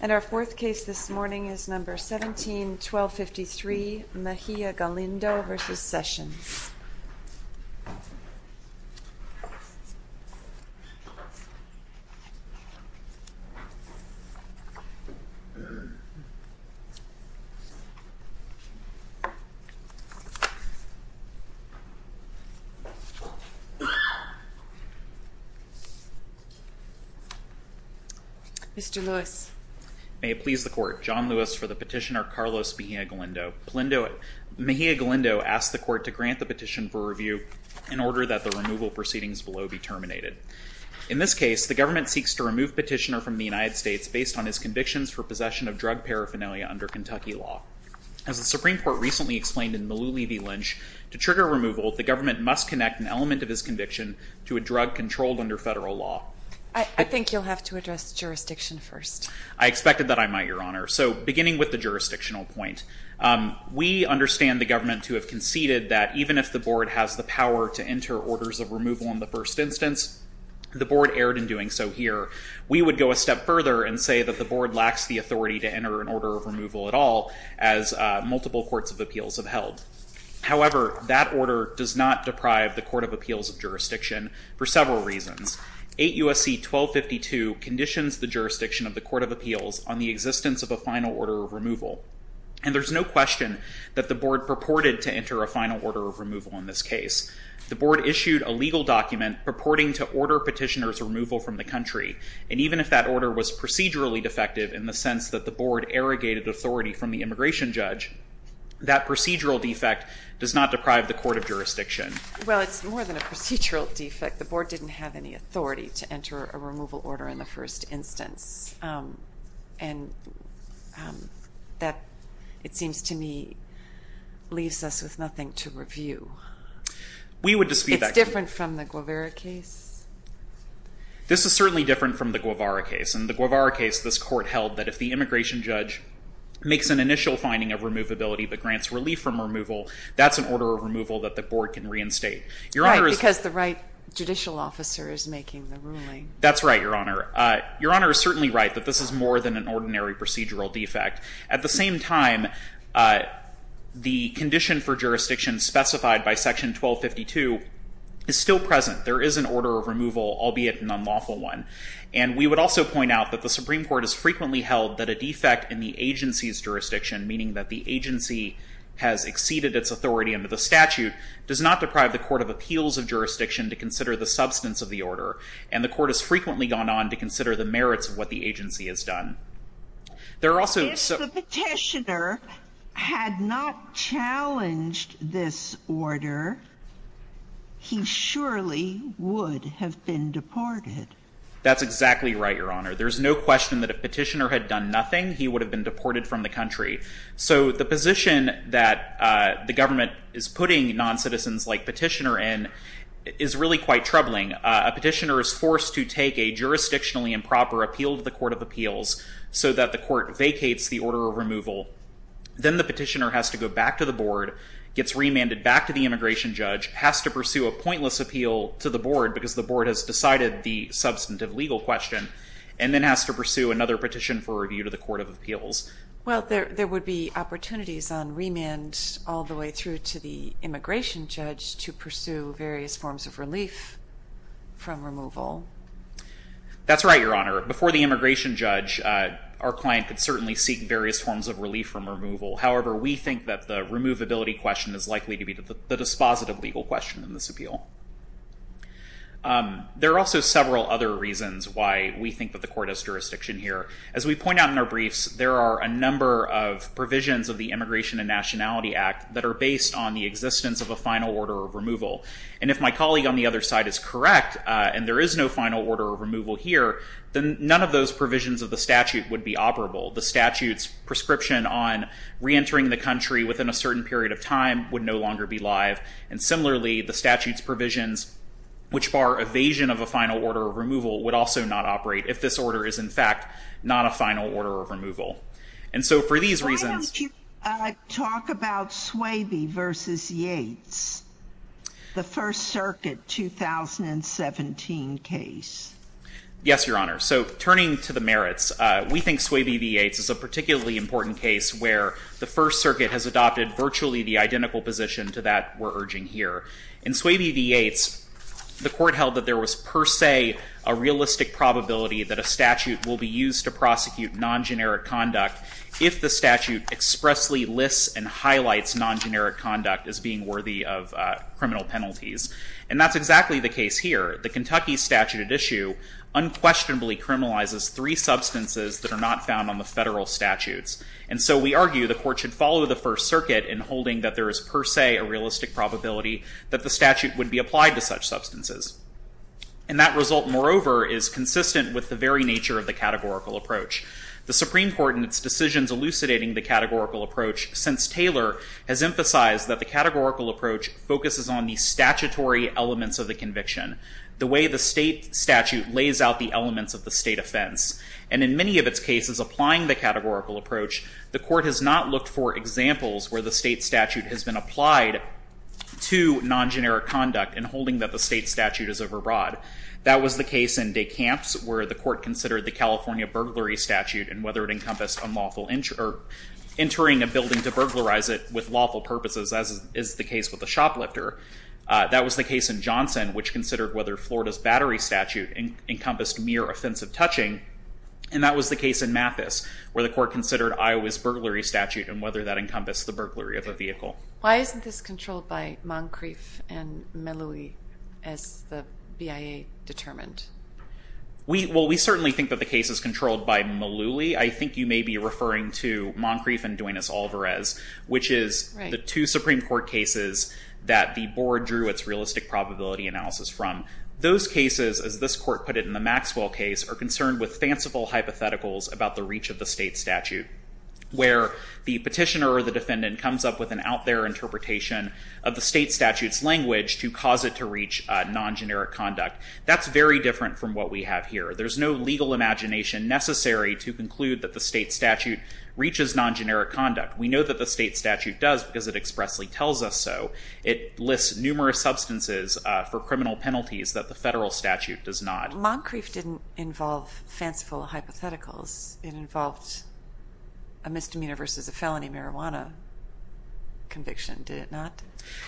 And our fourth case this morning is number 17-1253 Mejia-Galindo v. Sessions. Mr. Lewis. May it please the court. John Lewis for the petitioner Carlos Mejia-Galindo. Mejia-Galindo asked the court to grant the petition for review in order that the removal proceedings below be terminated. In this case, the government seeks to remove petitioner from the United States based on his convictions for possession of drug paraphernalia under Kentucky law. As the Supreme Court recently explained in Malooly v. Lynch, to trigger removal, the government must connect an element of his conviction to a drug controlled under federal law. I think you'll have to address jurisdiction first. I expected that I might, Your Honor. So, beginning with the jurisdictional point. We understand the government to have conceded that even if the board has the power to enter orders of removal in the first instance, the board erred in doing so here. We would go a step further and say that the board lacks the authority to enter an order of removal at all as multiple courts of appeals have held. However, that order does not deprive the court of appeals of jurisdiction for several reasons. 8 U.S.C. 1252 conditions the jurisdiction of the court of appeals on the existence of a final order of removal. And there's no question that the board purported to enter a final order of removal in this case. The board issued a legal document purporting to order petitioner's removal from the country. And even if that order was procedurally defective in the sense that the board arrogated authority from the immigration judge, that procedural defect does not deprive the court of jurisdiction. Well, it's more than a procedural defect. The board didn't have any authority to enter a removal order in the first instance. And that, it seems to me, leaves us with nothing to review. We would dispute that. It's different from the Guevara case? This is certainly different from the Guevara case. In the Guevara case, this court held that if the immigration judge makes an initial finding of removability but grants relief from removal, that's an order of removal that the board can reinstate. Right, because the right judicial officer is making the ruling. That's right, Your Honor. Your Honor is certainly right that this is more than an ordinary procedural defect. At the same time, the condition for jurisdiction specified by Section 1252 is still present. There is an order of removal, albeit an unlawful one. And we would also point out that the Supreme Court has frequently held that a defect in the agency's jurisdiction, meaning that the agency has exceeded its authority under the statute, does not deprive the court of appeals of jurisdiction to consider the substance of the order. And the court has frequently gone on to consider the merits of what the agency has done. If the petitioner had not challenged this order, he surely would have been deported. That's exactly right, Your Honor. There's no question that if a petitioner had done nothing, he would have been deported from the country. So the position that the government is putting noncitizens like petitioner in is really quite troubling. A petitioner is forced to take a jurisdictionally improper appeal to the court of appeals so that the court vacates the order of removal. Then the petitioner has to go back to the board, gets remanded back to the immigration judge, has to pursue a pointless appeal to the board because the board has decided the substantive legal question, and then has to pursue another petition for review to the court of appeals. Well, there would be opportunities on remand all the way through to the immigration judge to pursue various forms of relief from removal. That's right, Your Honor. Before the immigration judge, our client could certainly seek various forms of relief from removal. However, we think that the removability question is likely to be the dispositive legal question in this appeal. There are also several other reasons why we think that the court has jurisdiction here. As we point out in our briefs, there are a number of provisions of the Immigration and Nationality Act that are based on the existence of a final order of removal. And if my colleague on the other side is correct, and there is no final order of removal here, then none of those provisions of the statute would be operable. The statute's prescription on reentering the country within a certain period of time would no longer be live. And similarly, the statute's provisions, which bar evasion of a final order of removal, would also not operate if this order is, in fact, not a final order of removal. And so for these reasons— Why don't you talk about Swaby v. Yates, the First Circuit 2017 case? Yes, Your Honor. So turning to the merits, we think Swaby v. Yates is a particularly important case where the First Circuit has adopted virtually the identical position to that we're urging here. In Swaby v. Yates, the court held that there was per se a realistic probability that a statute will be used to prosecute non-generic conduct if the statute expressly lists and highlights non-generic conduct as being worthy of criminal penalties. And that's exactly the case here. The Kentucky statute at issue unquestionably criminalizes three substances that are not found on the federal statutes. And so we argue the court should follow the First Circuit in holding that there is per se a realistic probability that the statute would be applied to such substances. And that result, moreover, is consistent with the very nature of the categorical approach. The Supreme Court in its decisions elucidating the categorical approach since Taylor has emphasized that the categorical approach focuses on the statutory elements of the conviction, the way the state statute lays out the elements of the state offense. And in many of its cases applying the categorical approach, the court has not looked for examples where the state statute has been applied to non-generic conduct in holding that the state statute is overbroad. That was the case in DeCamps, where the court considered the California burglary statute and whether it encompassed entering a building to burglarize it with lawful purposes, as is the case with the shoplifter. That was the case in Johnson, which considered whether Florida's battery statute encompassed mere offensive touching. And that was the case in Mathis, where the court considered Iowa's burglary statute and whether that encompassed the burglary of a vehicle. Why isn't this controlled by Moncrief and Meluli, as the BIA determined? Well, we certainly think that the case is controlled by Meluli. I think you may be referring to Moncrief and Duenas-Alvarez, which is the two Supreme Court cases that the board drew its realistic probability analysis from. Those cases, as this court put it in the Maxwell case, are concerned with fanciful hypotheticals about the reach of the state statute, where the petitioner or the defendant comes up with an out-there interpretation of the state statute's language to cause it to reach non-generic conduct. That's very different from what we have here. There's no legal imagination necessary to conclude that the state statute reaches non-generic conduct. We know that the state statute does, because it expressly tells us so. It lists numerous substances for criminal penalties that the federal statute does not. Moncrief didn't involve fanciful hypotheticals. It involved a misdemeanor versus a felony marijuana conviction, did it not?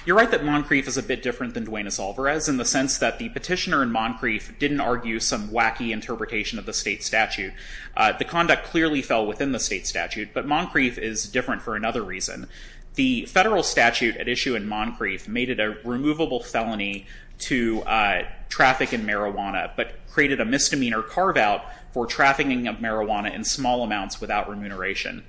You're right that Moncrief is a bit different than Duenas-Alvarez in the sense that the petitioner in Moncrief didn't argue some wacky interpretation of the state statute. The conduct clearly fell within the state statute, but Moncrief is different for another reason. The federal statute at issue in Moncrief made it a removable felony to traffic in marijuana, but created a misdemeanor carve-out for trafficking of marijuana in small amounts without remuneration.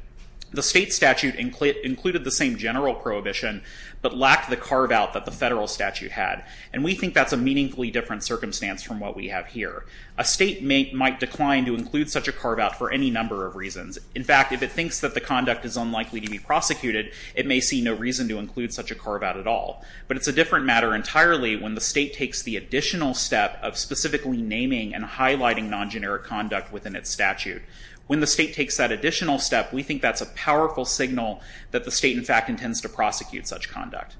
The state statute included the same general prohibition, but lacked the carve-out that the federal statute had. And we think that's a meaningfully different circumstance from what we have here. A state might decline to include such a carve-out for any number of reasons. In fact, if it thinks that the conduct is unlikely to be prosecuted, it may see no reason to include such a carve-out at all. But it's a different matter entirely when the state takes the additional step of specifically naming and highlighting non-generic conduct within its statute. When the state takes that additional step, we think that's a powerful signal that the state, in fact, intends to prosecute such conduct.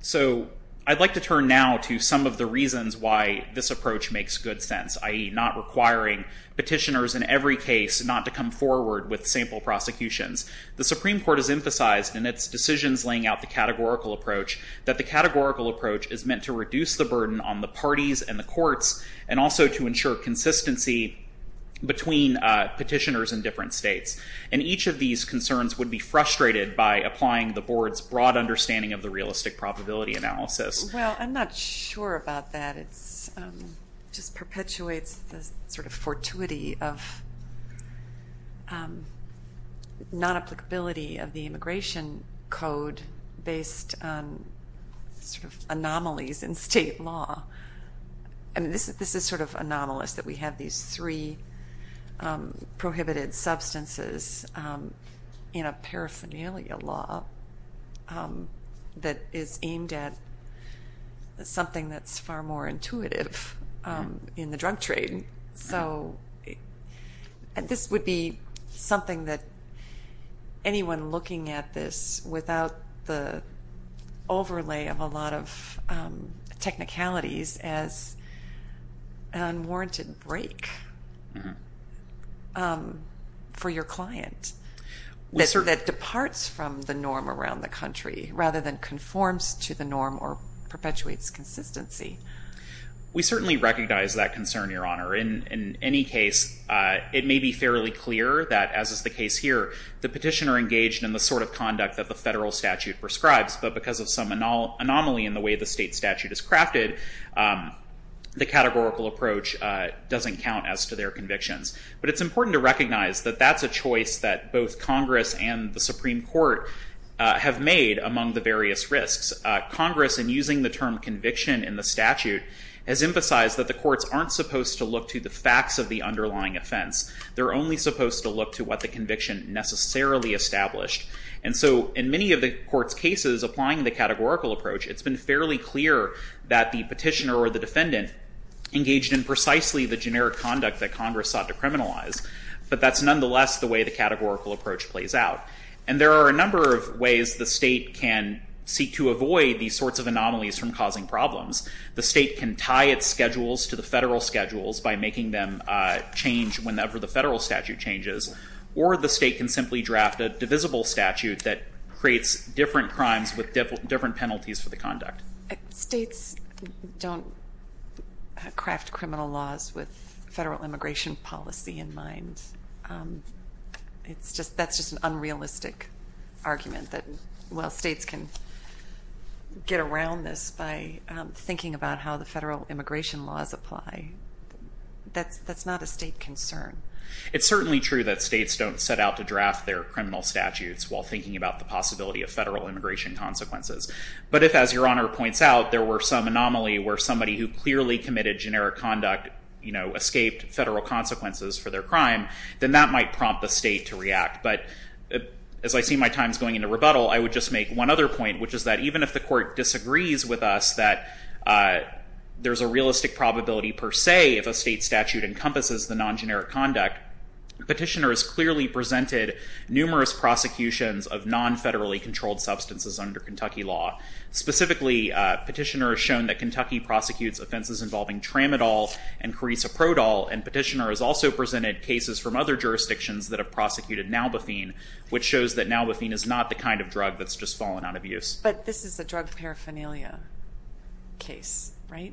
So I'd like to turn now to some of the reasons why this approach makes good sense, i.e. not requiring petitioners in every case not to come forward with sample prosecutions. The Supreme Court has emphasized in its decisions laying out the categorical approach that the categorical approach is meant to reduce the burden on the parties and the courts, and also to ensure consistency between petitioners in different states. And each of these concerns would be frustrated by applying the Board's broad understanding of the realistic probability analysis. Well, I'm not sure about that. It just perpetuates the sort of fortuity of non-applicability of the Immigration Code based on anomalies in state law. I mean, this is sort of anomalous that we have these three prohibited substances in a paraphernalia law that is aimed at something that's far more intuitive in the drug trade. So this would be something that anyone looking at this without the overlay of a lot of technicalities as unwarranted break for your client that departs from the norm around the country rather than conforms to the norm or perpetuates consistency. We certainly recognize that concern, Your Honor. In any case, it may be fairly clear that, as is the case here, the petitioner engaged in the sort of conduct that the federal statute prescribes, but because of some anomaly in the way the state statute is crafted, the categorical approach doesn't count as to their convictions. But it's important to recognize that that's a choice that both Congress and the Supreme Court have made among the various risks. Congress, in using the term conviction in the statute, has emphasized that the courts aren't supposed to look to the facts of the underlying offense. They're only supposed to look to what the conviction necessarily established. And so in many of the court's cases applying the categorical approach, it's been fairly clear that the petitioner or the defendant engaged in precisely the generic conduct that Congress sought to criminalize. But that's nonetheless the way the categorical approach plays out. And there are a number of ways the state can seek to avoid these sorts of anomalies from causing problems. The state can tie its schedules to the federal schedules by making them change whenever the federal statute changes, or the state can simply draft a divisible statute that creates different crimes with different penalties for the conduct. States don't craft criminal laws with federal immigration policy in mind. That's just an unrealistic argument that states can get around this by thinking about how the federal immigration laws apply. That's not a state concern. It's certainly true that states don't set out to draft their criminal statutes while thinking about the possibility of federal immigration consequences. But if, as Your Honor points out, there were some anomaly where somebody who clearly committed generic conduct escaped federal consequences for their crime, then that might prompt the state to react. But as I see my time's going into rebuttal, I would just make one other point, which is that even if the court disagrees with us that there's a realistic probability, per se, if a state statute encompasses the non-generic conduct, the petitioner has clearly presented numerous prosecutions of non-federally controlled substances under Kentucky law. Specifically, petitioner has shown that Kentucky prosecutes offenses involving tramadol and carisaprodol. And petitioner has also presented cases from other jurisdictions that have prosecuted nalbethine, which shows that nalbethine is not the kind of drug that's just fallen out of use. But this is a drug paraphernalia case, right?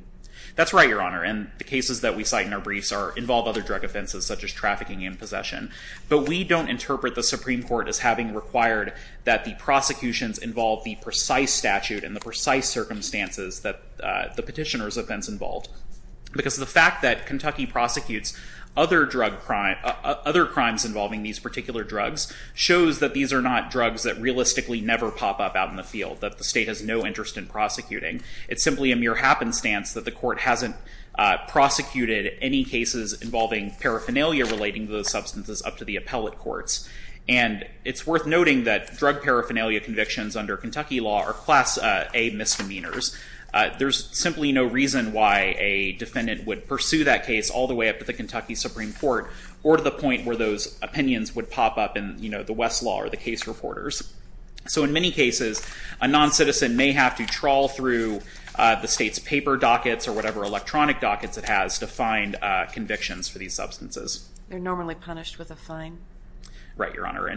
That's right, Your Honor. And the cases that we cite in our briefs involve other drug offenses, such as trafficking and possession. But we don't interpret the Supreme Court as having required that the prosecutions involve the precise statute and the precise circumstances that the petitioner's offense involved. Because the fact that Kentucky prosecutes other crimes involving these particular drugs shows that these are not drugs that realistically never pop up out in the field, that the state has no interest in prosecuting. It's simply a mere happenstance that the court hasn't prosecuted any cases involving paraphernalia relating to those substances up to the appellate courts. And it's worth noting that drug paraphernalia convictions under Kentucky law are Class A misdemeanors. There's simply no reason why a defendant would pursue that case all the way up to the Kentucky Supreme Court or to the point where those opinions would pop up in the Westlaw or the case reporters. So in many cases, a noncitizen may have to trawl through the state's paper dockets or whatever electronic dockets it has to find convictions for these substances. They're normally punished with a fine? Right, Your Honor,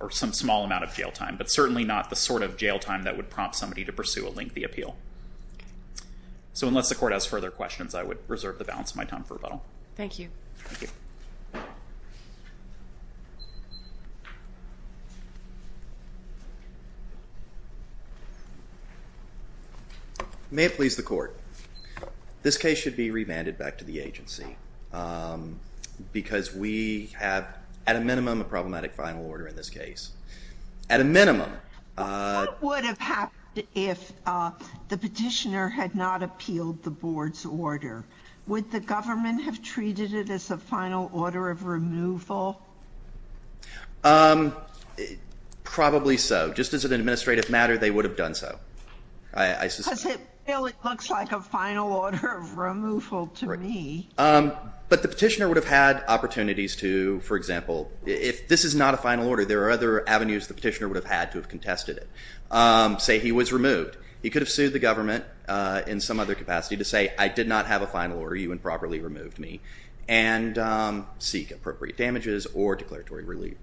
or some small amount of jail time, but certainly not the sort of jail time that would prompt somebody to pursue a lengthy appeal. So unless the court has further questions, I would reserve the balance of my time for rebuttal. Thank you. Thank you. May it please the court. This case should be remanded back to the agency because we have, at a minimum, a problematic final order in this case. At a minimum. What would have happened if the petitioner had not appealed the board's order? Would the government have treated it as a final order of removal? Probably so. Just as an administrative matter, they would have done so. Because it really looks like a final order of removal to me. But the petitioner would have had opportunities to, for example, if this is not a final order, there are other avenues the petitioner would have had to have contested it. Say he was removed. He could have sued the government in some other capacity to say I did not have a final order, you improperly removed me, and seek appropriate damages or declaratory relief.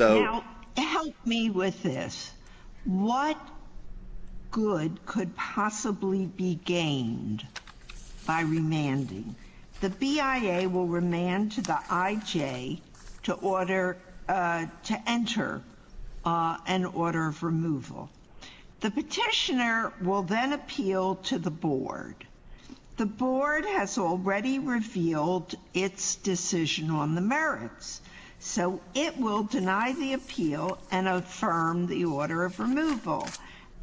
Now, help me with this. What good could possibly be gained by remanding? The BIA will remand to the IJ to order, to enter an order of removal. The petitioner will then appeal to the board. The board has already revealed its decision on the merits. So it will deny the appeal and affirm the order of removal.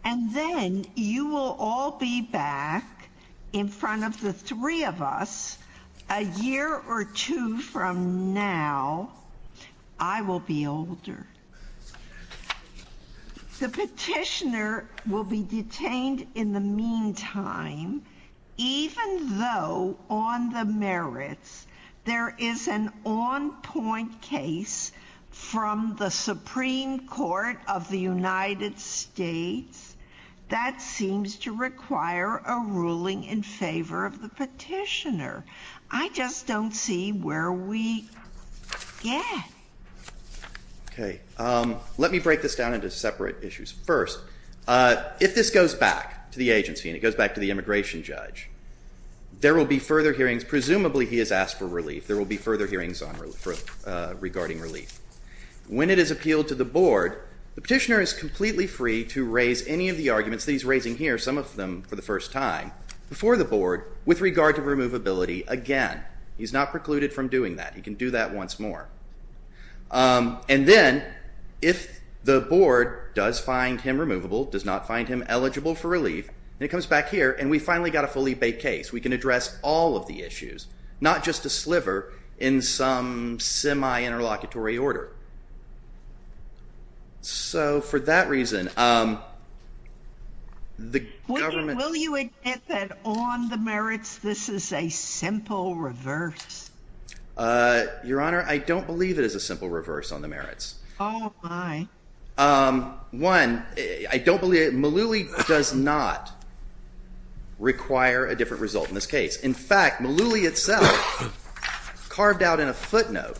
And then you will all be back in front of the three of us a year or two from now. I will be older. The petitioner will be detained in the meantime, even though on the merits there is an on-point case from the Supreme Court of the United States that seems to require a ruling in favor of the petitioner. I just don't see where we could get. OK. Let me break this down into separate issues. First, if this goes back to the agency and it goes back to the immigration judge, there will be further hearings. Presumably he has asked for relief. There will be further hearings regarding relief. When it is appealed to the board, the petitioner is completely free to raise any of the arguments that he's raising here, some of them for the first time, before the board with regard to removability again. He's not precluded from doing that. He can do that once more. And then if the board does find him removable, does not find him eligible for relief, and it comes back here and we finally got a fully baked case, we can address all of the issues, not just a sliver in some semi-interlocutory order. So for that reason, the government... Will you admit that on the merits this is a simple reverse? Your Honor, I don't believe it is a simple reverse on the merits. Oh, my. One, I don't believe it. Malooly does not require a different result in this case. In fact, Malooly itself carved out in a footnote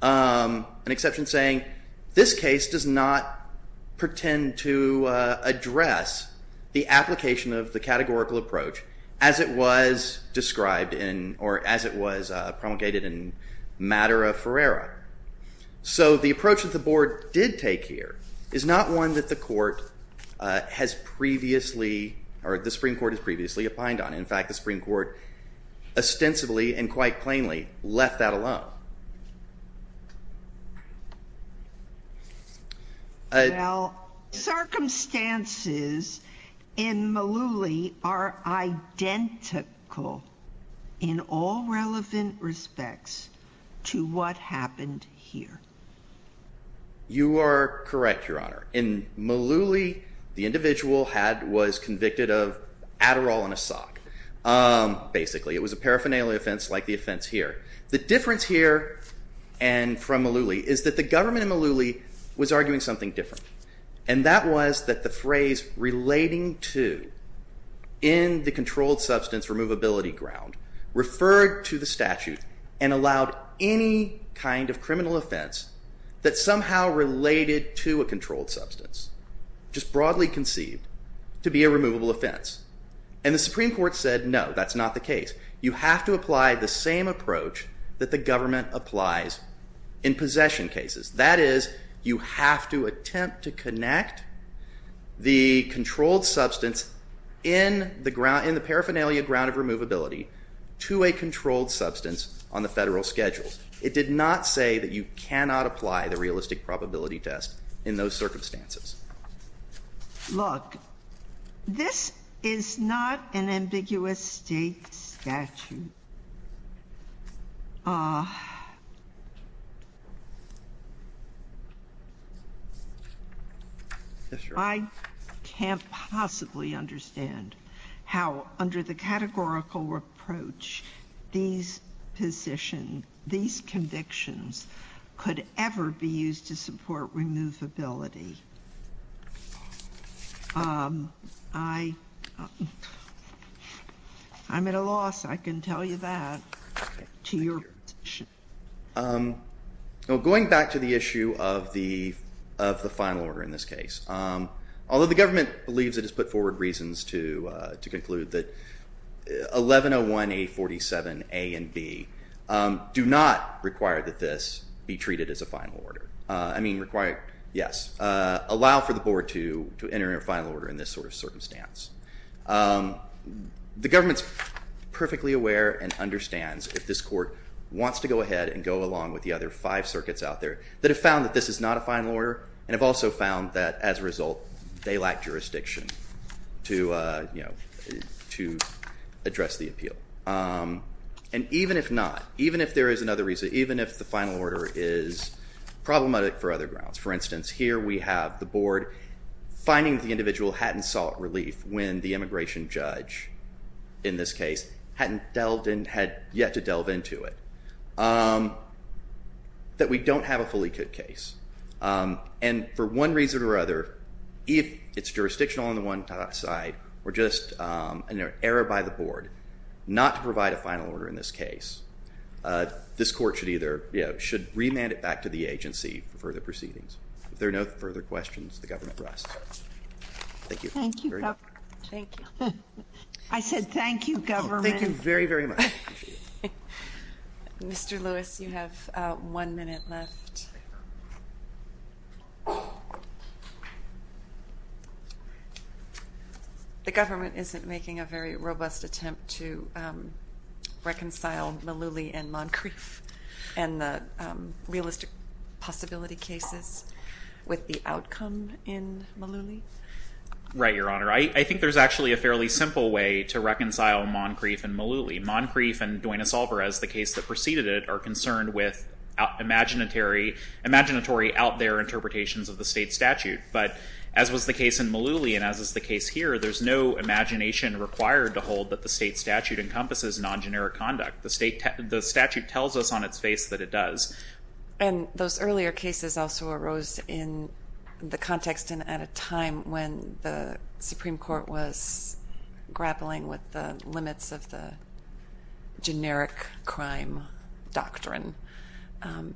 an exception saying, this case does not pretend to address the application of the categorical approach as it was described in, or as it was promulgated in Madera-Ferreira. So the approach that the board did take here is not one that the court has previously, or the Supreme Court has previously opined on. In fact, the Supreme Court ostensibly and quite plainly left that alone. Well, circumstances in Malooly are identical in all relevant respects to what happened here. You are correct, Your Honor. In Malooly, the individual was convicted of Adderall in a sock, basically. It was a paraphernalia offense like the offense here. The difference here and from Malooly is that the government in Malooly was arguing something different, and that was that the phrase relating to in the controlled substance removability ground referred to the statute and allowed any kind of criminal offense that somehow related to a controlled substance, just broadly conceived, to be a removable offense. And the Supreme Court said, no, that's not the case. You have to apply the same approach that the government applies in possession cases. That is, you have to attempt to connect the controlled substance in the paraphernalia ground of removability to a controlled substance on the federal schedules. It did not say that you cannot apply the realistic probability test in those circumstances. Look, this is not an ambiguous State statute. I can't possibly understand how, under the categorical approach, these positions, these convictions could ever be used to support removability. I'm at a loss, I can tell you that, to your position. Going back to the issue of the final order in this case, although the government believes it has put forward reasons to conclude that 1101A47A and B do not require that this be treated as a final order. I mean, require, yes, allow for the board to enter a final order in this sort of circumstance. The government's perfectly aware and understands if this court wants to go ahead and go along with the other five circuits out there that have found that this is not a final order and have also found that, as a result, they lack jurisdiction to address the appeal. And even if not, even if there is another reason, even if the final order is problematic for other grounds, for instance, here we have the board finding the individual hadn't sought relief when the immigration judge, in this case, hadn't delved in, had yet to delve into it, that we don't have a fully cooked case. And for one reason or other, if it's jurisdictional on the one side, or just an error by the board not to provide a final order in this case, this court should either, you know, should remand it back to the agency for further proceedings. If there are no further questions, the government rests. Thank you. Thank you, Governor. Thank you. I said thank you, government. Thank you very, very much. I appreciate it. Mr. Lewis, you have one minute left. The government isn't making a very robust attempt to reconcile Malouli and Moncrief and the realistic possibility cases with the outcome in Malouli? Right, Your Honor. I think there's actually a fairly simple way to reconcile Moncrief and Malouli. Moncrief and Duenas-Alvarez, the case that preceded it, are concerned with imaginatory out-there interpretations of the state statute. But as was the case in Malouli and as is the case here, there's no imagination required to hold that the state statute encompasses non-generic conduct. The statute tells us on its face that it does. And those earlier cases also arose in the context and at a time when the Supreme Court was grappling with the limits of the generic crime doctrine.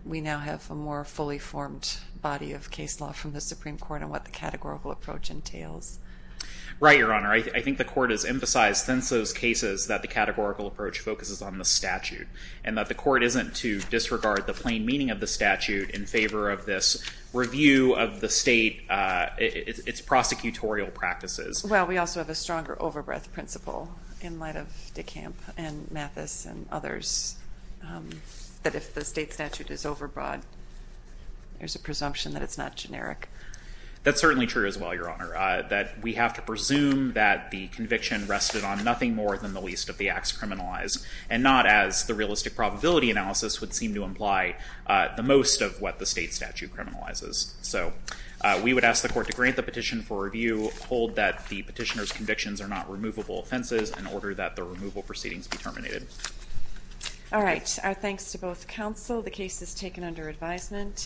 We now have a more fully formed body of case law from the Supreme Court on what the categorical approach entails. Right, Your Honor. I think the court has emphasized since those cases that the categorical approach focuses on the statute and that the court isn't to disregard the plain meaning of the statute in favor of this review of the state, its prosecutorial practices. Well, we also have a stronger overbreath principle in light of Dekamp and Mathis and others that if the state statute is overbroad, there's a presumption that it's not generic. That's certainly true as well, Your Honor, that we have to presume that the conviction rested on nothing more than the least of the acts criminalized and not as the realistic probability analysis would seem to imply the most of what the state statute criminalizes. So we would ask the court to grant the petition for review, hold that the petitioner's convictions are not removable offenses, and order that the removal proceedings be terminated. All right. Our thanks to both counsel. The case is taken under advisement.